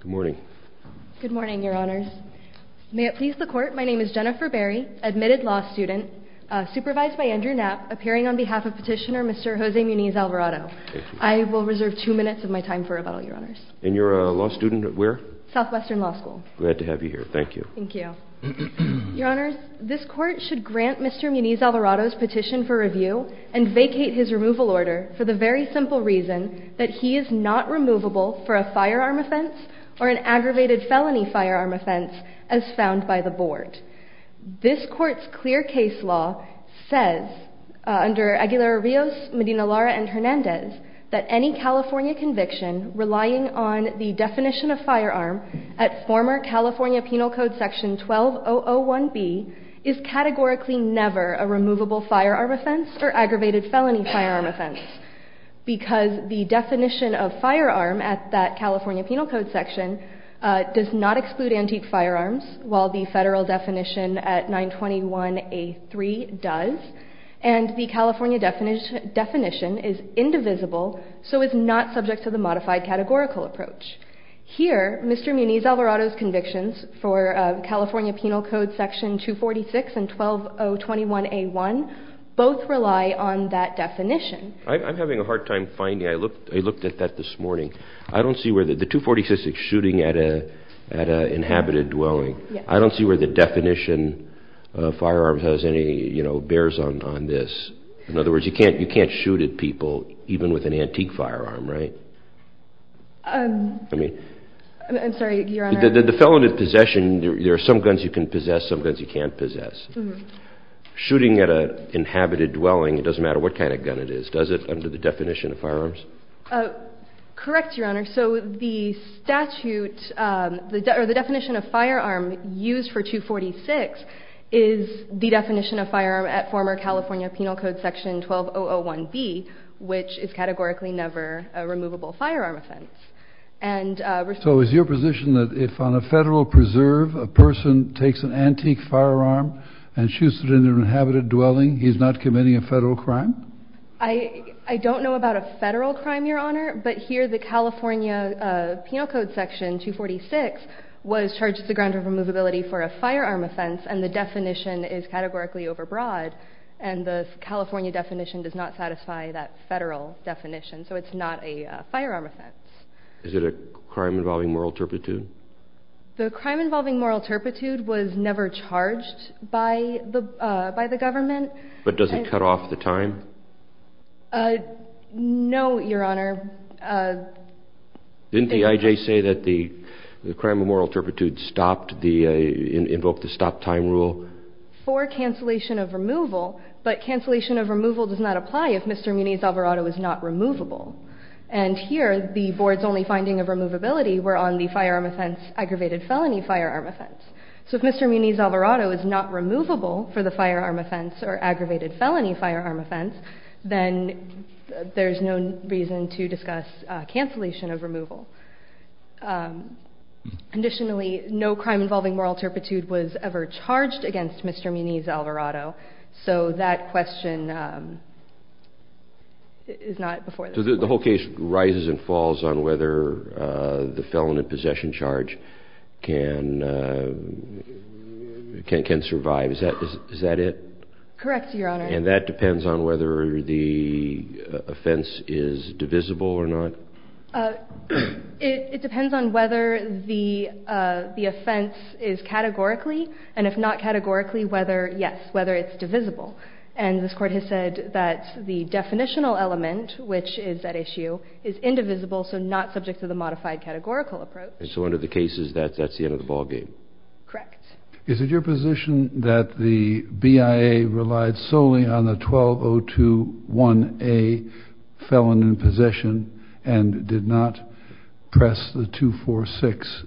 Good morning. Good morning, Your Honors. May it please the Court, my name is Jennifer Berry, admitted law student, supervised by Andrew Knapp, appearing on behalf of Petitioner Mr. Jose Muniz-Alvarado. I will reserve two minutes of my time for rebuttal, Your Honors. And you're a law student at where? Southwestern Law School. Glad to have you here, thank you. Thank you. Your Honors, this Court should grant Mr. Muniz-Alvarado's petition for review and vacate his removal order for the very simple reason that he is not removable for a firearm offense or an aggravated felony firearm offense as found by the Board. This Court's clear case law says, under Aguilar-Rios, Medina-Lara, and Hernandez, that any California conviction relying on the definition of firearm at former California Penal Code Section 12001B is categorically never a removable firearm offense or aggravated felony firearm offense. Because the definition of firearm at that California Penal Code Section does not exclude antique firearms, while the federal definition at 921A3 does. And the California definition is indivisible, so it's not subject to the modified categorical approach. Here, Mr. Muniz-Alvarado's convictions for California Penal Code Section 246 and 12021A1 both rely on that definition. I'm having a hard time finding. I looked at that this morning. I don't see where the 246 is shooting at an inhabited dwelling. I don't see where the definition of firearm has any, you know, bears on this. In other words, you can't shoot at people even with an antique firearm, right? I'm sorry, Your Honor. The felony possession, there are some guns you can possess, some guns you can't possess. Shooting at an inhabited dwelling, it doesn't matter what kind of gun it is, does it, under the definition of firearms? Correct, Your Honor. So the statute, or the definition of firearm used for 246 is the definition of firearm at former California Penal Code Section 12001B, which is categorically never a removable firearm offense. So is your position that if on a federal preserve, a person takes an antique firearm and shoots it in an inhabited dwelling, he's not committing a federal crime? I don't know about a federal crime, Your Honor, but here the California Penal Code Section 246 was charged with the grounds of removability for a firearm offense, and the definition is categorically overbroad. And the California definition does not satisfy that federal definition, so it's not a firearm offense. Is it a crime involving moral turpitude? The crime involving moral turpitude was never charged by the government. But does it cut off the time? No, Your Honor. Didn't the IJ say that the crime of moral turpitude stopped, invoked the stop time rule? For cancellation of removal, but cancellation of removal does not apply if Mr. Muniz-Alvarado is not removable. And here, the board's only finding of removability were on the firearm offense, aggravated felony firearm offense. So if Mr. Muniz-Alvarado is not removable for the firearm offense or aggravated felony firearm offense, then there's no reason to discuss cancellation of removal. Additionally, no crime involving moral turpitude was ever charged against Mr. Muniz-Alvarado, so that question is not before the court. So the whole case rises and falls on whether the felon in possession charge can survive. Is that it? Correct, Your Honor. And that depends on whether the offense is divisible or not? It depends on whether the offense is categorically, and if not categorically, whether, yes, whether it's divisible. And this court has said that the definitional element, which is at issue, is indivisible, so not subject to the modified categorical approach. And so under the cases, that's the end of the ballgame? Correct. Is it your position that the BIA relied solely on the 12021A felon in possession and did not press the 246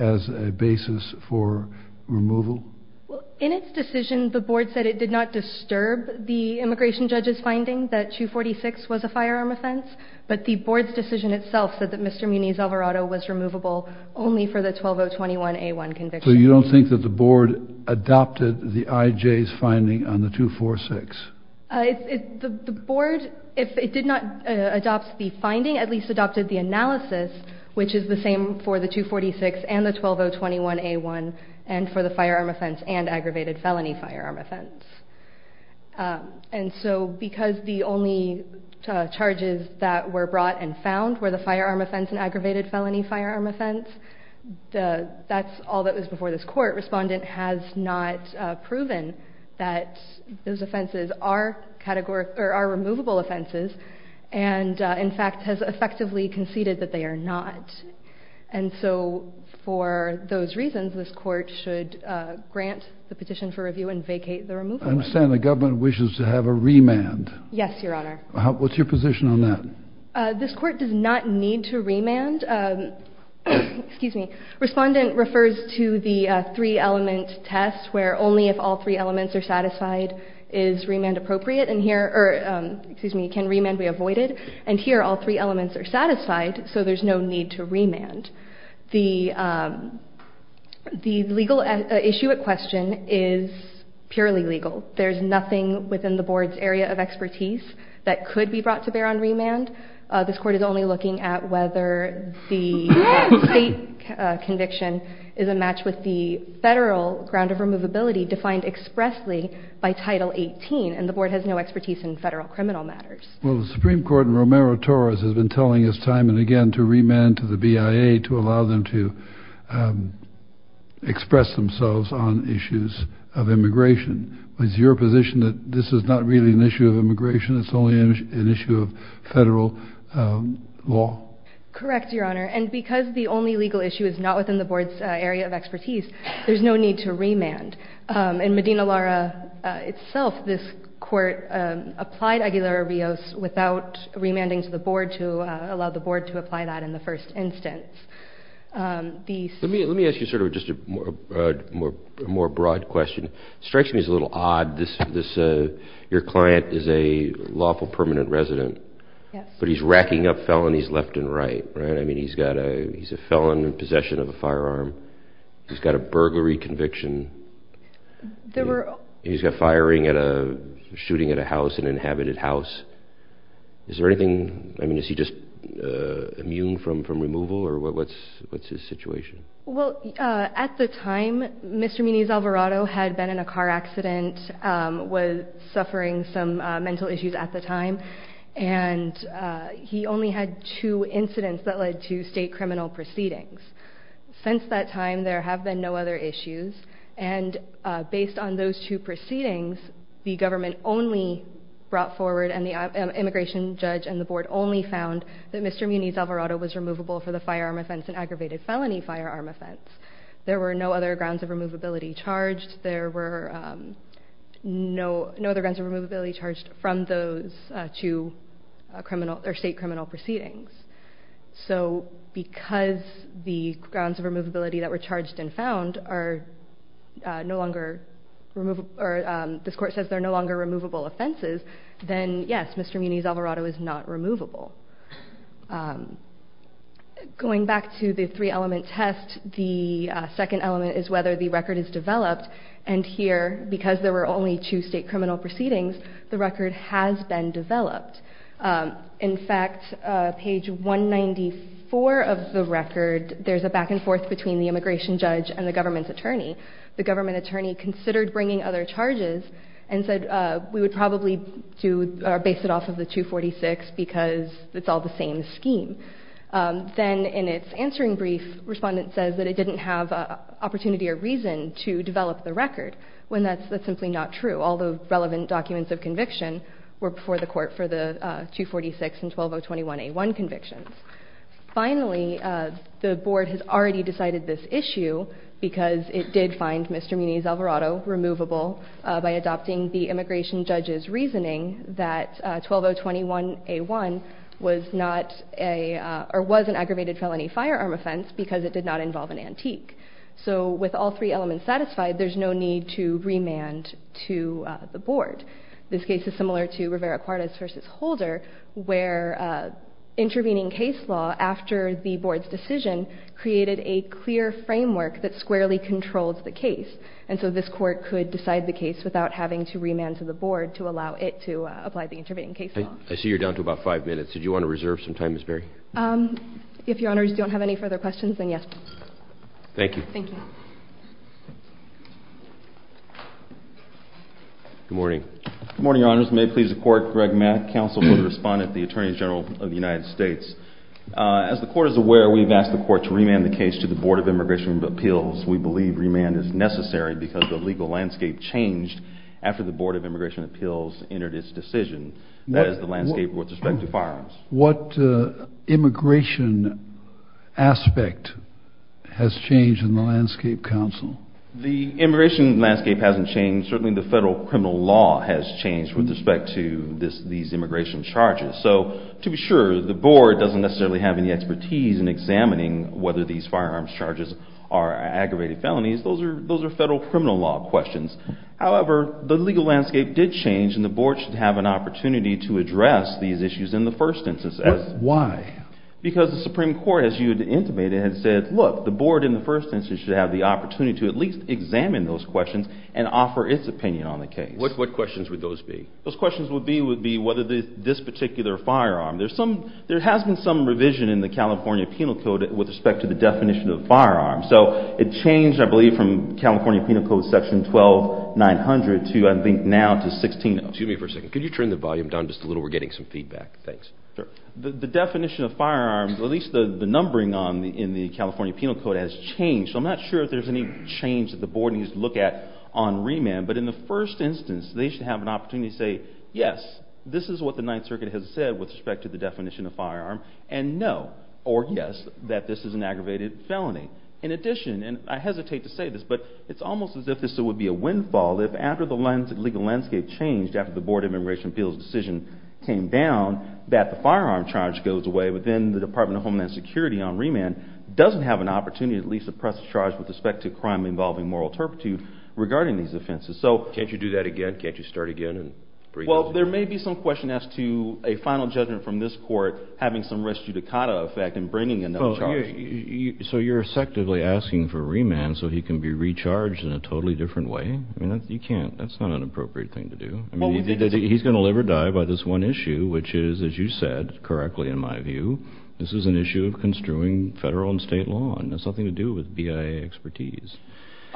as a basis for removal? In its decision, the board said it did not disturb the immigration judge's finding that 246 was a firearm offense, but the board's decision itself said that Mr. Muniz-Alvarado was removable only for the 12021A1 conviction. So you don't think that the board adopted the IJ's finding on the 246? The board, if it did not adopt the finding, at least adopted the analysis, which is the same for the 246 and the 12021A1 and for the firearm offense and aggravated felony firearm offense. And so because the only charges that were brought and found were the firearm offense and aggravated felony firearm offense, that's all that was before this court. Respondent has not proven that those offenses are removable offenses and, in fact, has effectively conceded that they are not. And so for those reasons, this court should grant the petition for review and vacate the removal. I understand the government wishes to have a remand. Yes, Your Honor. What's your position on that? This court does not need to remand. Excuse me. Respondent refers to the three-element test where only if all three elements are satisfied is remand appropriate. And here, or excuse me, can remand be avoided? And here all three elements are satisfied, so there's no need to remand. The legal issue at question is purely legal. There's nothing within the board's area of expertise that could be brought to bear on remand. This court is only looking at whether the state conviction is a match with the federal ground of removability defined expressly by Title 18, and the board has no expertise in federal criminal matters. Well, the Supreme Court in Romero-Torres has been telling us time and again to remand to the BIA to allow them to express themselves on issues of immigration. Is your position that this is not really an issue of immigration? It's only an issue of federal law? Correct, Your Honor. And because the only legal issue is not within the board's area of expertise, there's no need to remand. In Medina-Lara itself, this court applied Aguilar-Rios without remanding to the board to allow the board to apply that in the first instance. Let me ask you sort of just a more broad question. It strikes me as a little odd. Your client is a lawful permanent resident, but he's racking up felonies left and right, right? I mean, he's a felon in possession of a firearm. He's got a burglary conviction. He's got firing at a shooting at a house, an inhabited house. Is there anything? I mean, is he just immune from removal, or what's his situation? Well, at the time, Mr. Muniz-Alvarado had been in a car accident, was suffering some mental issues at the time, and he only had two incidents that led to state criminal proceedings. Since that time, there have been no other issues. And based on those two proceedings, the government only brought forward and the immigration judge and the board only found that Mr. Muniz-Alvarado was removable for the firearm offense and aggravated felony firearm offense. There were no other grounds of removability charged. There were no other grounds of removability charged from those two state criminal proceedings. So because the grounds of removability that were charged and found are no longer removable, or this court says they're no longer removable offenses, then yes, Mr. Muniz-Alvarado is not removable. Going back to the three-element test, the second element is whether the record is developed, and here, because there were only two state criminal proceedings, the record has been developed. In fact, page 194 of the record, there's a back and forth between the immigration judge and the government attorney. The government attorney considered bringing other charges and said, we would probably base it off of the 246 because it's all the same scheme. Then in its answering brief, respondent says that it didn't have opportunity or reason to develop the record, when that's simply not true. All the relevant documents of conviction were before the court for the 246 and 12021A1 convictions. Finally, the board has already decided this issue because it did find Mr. Muniz-Alvarado removable by adopting the immigration judge's reasoning that 12021A1 was an aggravated felony firearm offense because it did not involve an antique. So with all three elements satisfied, there's no need to remand to the board. This case is similar to Rivera-Cortez v. Holder where intervening case law, after the board's decision, created a clear framework that squarely controls the case. And so this court could decide the case without having to remand to the board to allow it to apply the intervening case law. I see you're down to about five minutes. Did you want to reserve some time, Ms. Berry? If Your Honors don't have any further questions, then yes. Thank you. Good morning. Good morning, Your Honors. May it please the court, Greg Mack, counsel for the respondent, the Attorney General of the United States. As the court is aware, we've asked the court to remand the case to the Board of Immigration Appeals. We believe remand is necessary because the legal landscape changed after the Board of Immigration Appeals entered its decision, that is the landscape with respect to firearms. What immigration aspect has changed in the landscape, counsel? The immigration landscape hasn't changed. Certainly the federal criminal law has changed with respect to these immigration charges. So to be sure, the board doesn't necessarily have any expertise in examining whether these firearms charges are aggravated felonies. Those are federal criminal law questions. However, the legal landscape did change, and the board should have an opportunity to address these issues in the first instance. Why? Because the Supreme Court, as you had intimated, had said, look, the board in the first instance should have the opportunity to at least examine those questions and offer its opinion on the case. What questions would those be? Those questions would be whether this particular firearm, there has been some revision in the California Penal Code with respect to the definition of firearms. So it changed, I believe, from California Penal Code section 12-900 to I think now to 16-0. Excuse me for a second. Could you turn the volume down just a little? We're getting some feedback. Thanks. Sure. The definition of firearms, or at least the numbering in the California Penal Code has changed. So I'm not sure if there's any change that the board needs to look at on remand. But in the first instance, they should have an opportunity to say, yes, this is what the Ninth Circuit has said with respect to the definition of firearm, and no, or yes, that this is an aggravated felony. In addition, and I hesitate to say this, but it's almost as if this would be a windfall if after the legal landscape changed, after the Board of Immigration Appeals decision came down, that the firearm charge goes away, but then the Department of Homeland Security on remand doesn't have an opportunity to at least suppress the charge with respect to a crime involving moral turpitude regarding these offenses. So can't you do that again? Can't you start again? Well, there may be some question as to a final judgment from this court having some res judicata effect in bringing a no charge. So you're effectively asking for remand so he can be recharged in a totally different way? I mean, you can't. That's not an appropriate thing to do. I mean, he's going to live or die by this one issue, which is, as you said correctly in my view, this is an issue of construing federal and state law, and it has nothing to do with BIA expertise.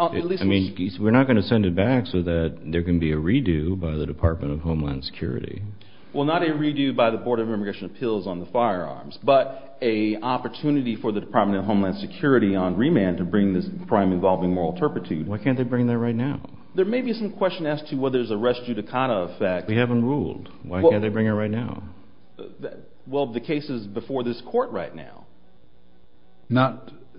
I mean, we're not going to send it back so that there can be a redo by the Department of Homeland Security. Well, not a redo by the Board of Immigration Appeals on the firearms, but an opportunity for the Department of Homeland Security on remand to bring this crime involving moral turpitude. Why can't they bring that right now? There may be some question as to whether there's a res judicata effect. We haven't ruled. Why can't they bring it right now? Well, the case is before this court right now.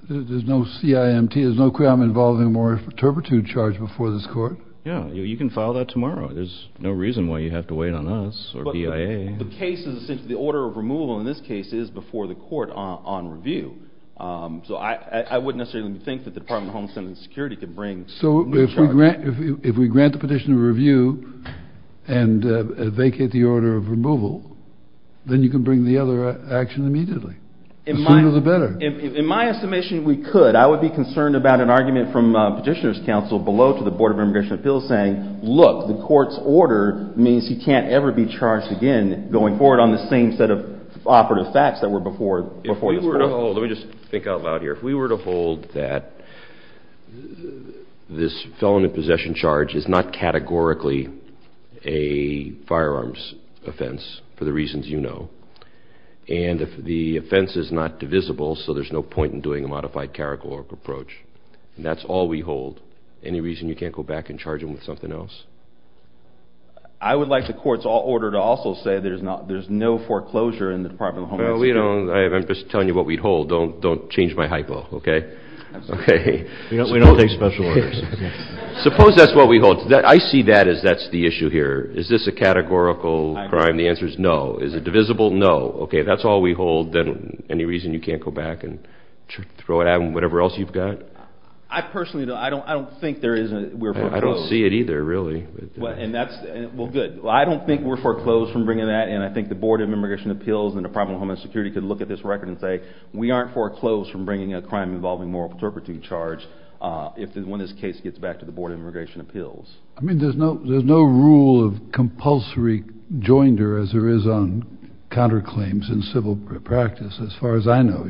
There's no CIMT? There's no crime involving a moral turpitude charge before this court? Yeah, you can file that tomorrow. There's no reason why you have to wait on us or BIA. The case is essentially the order of removal in this case is before the court on review. So I wouldn't necessarily think that the Department of Homeland Security could bring a new charge. So if we grant the petitioner a review and vacate the order of removal, then you can bring the other action immediately. The sooner the better. In my estimation, we could. I would be concerned about an argument from Petitioner's Counsel below to the Board of Immigration Appeals saying, look, the court's order means he can't ever be charged again going forward on the same set of operative facts that were before this court. Let me just think out loud here. If we were to hold that this felon in possession charge is not categorically a firearms offense, for the reasons you know, and if the offense is not divisible, so there's no point in doing a modified categorical approach, and that's all we hold. Any reason you can't go back and charge him with something else? I would like the court's order to also say there's no foreclosure in the Department of Homeland Security. I'm just telling you what we hold. Don't change my hypo, okay? We don't take special orders. Suppose that's what we hold. I see that as that's the issue here. Is this a categorical crime? The answer is no. Is it divisible? No. Okay, that's all we hold. Then any reason you can't go back and throw it out and whatever else you've got? I personally don't think we're foreclosed. I don't see it either, really. Well, good. I don't think we're foreclosed from bringing that, and I think the Board of Immigration Appeals and the Department of Homeland Security could look at this record and say, we aren't foreclosed from bringing a crime involving moral perjury charge when this case gets back to the Board of Immigration Appeals. I mean, there's no rule of compulsory joinder, as there is on counterclaims in civil practice, as far as I know.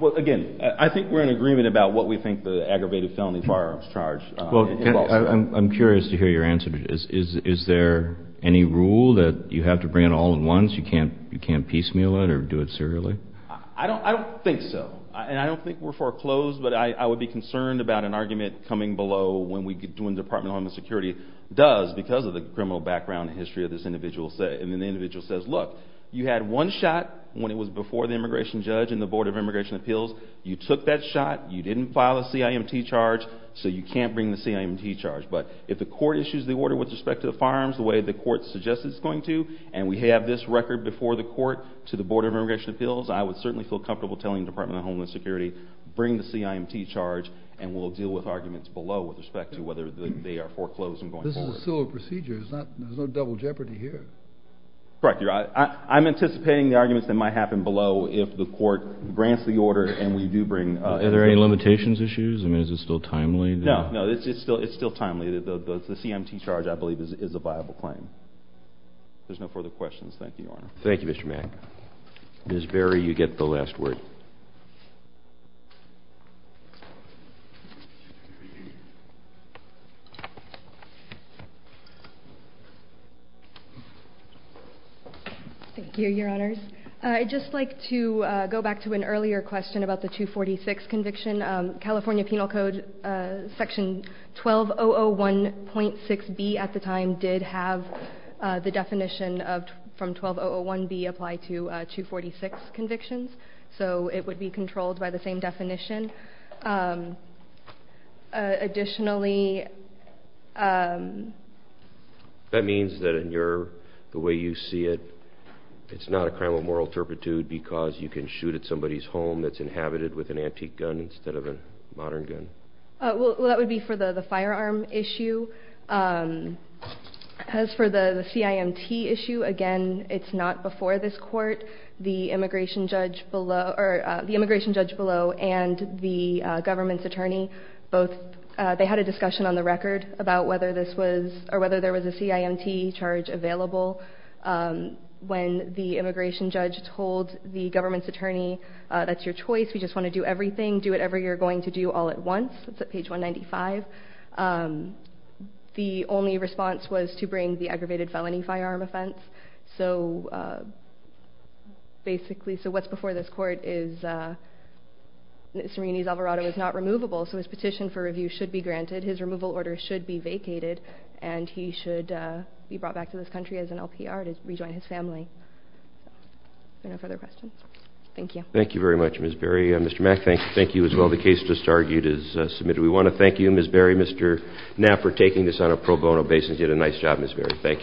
Well, again, I think we're in agreement about what we think the aggravated felony firearms charge involves. Well, I'm curious to hear your answer. Is there any rule that you have to bring it all in once? You can't piecemeal it or do it serially? I don't think so, and I don't think we're foreclosed, but I would be concerned about an argument coming below when the Department of Homeland Security does, because of the criminal background and history of this individual, and the individual says, look, you had one shot when it was before the immigration judge and the Board of Immigration Appeals. You took that shot. You didn't file a CIMT charge, so you can't bring the CIMT charge. But if the court issues the order with respect to the firearms the way the court suggests it's going to, and we have this record before the court to the Board of Immigration Appeals, I would certainly feel comfortable telling the Department of Homeland Security, bring the CIMT charge, and we'll deal with arguments below with respect to whether they are foreclosed from going forward. But this is a civil procedure. There's no double jeopardy here. Correct. I'm anticipating the arguments that might happen below if the court grants the order and we do bring it. Are there any limitations issues? I mean, is it still timely? No, it's still timely. The CIMT charge, I believe, is a viable claim. If there's no further questions, thank you, Your Honor. Thank you, Mr. Mack. Ms. Berry, you get the last word. Thank you, Your Honors. I'd just like to go back to an earlier question about the 246 conviction. California Penal Code Section 12001.6b at the time did have the definition from 12001b apply to 246 convictions, so it would be controlled by the same definition. Additionally... That means that in the way you see it, it's not a crime of moral turpitude because you can shoot at somebody's home that's inhabited with an antique gun instead of a modern gun? Well, that would be for the firearm issue. As for the CIMT issue, again, it's not before this court. The immigration judge below and the government's attorney, they had a discussion on the record about whether there was a CIMT charge available. When the immigration judge told the government's attorney, that's your choice, we just want to do everything, do whatever you're going to do all at once, that's at page 195, the only response was to bring the aggravated felony firearm offense. So, basically, what's before this court is that Serrini's Alvarado is not removable, so his petition for review should be granted, his removal order should be vacated, and he should be brought back to this country as an LPR to rejoin his family. Are there no further questions? Thank you. Thank you very much, Ms. Berry. Mr. Mack, thank you as well. The case just argued is submitted. We want to thank you, Ms. Berry, Mr. Knapp, for taking this on a pro bono basis. You did a nice job, Ms. Berry. Thank you.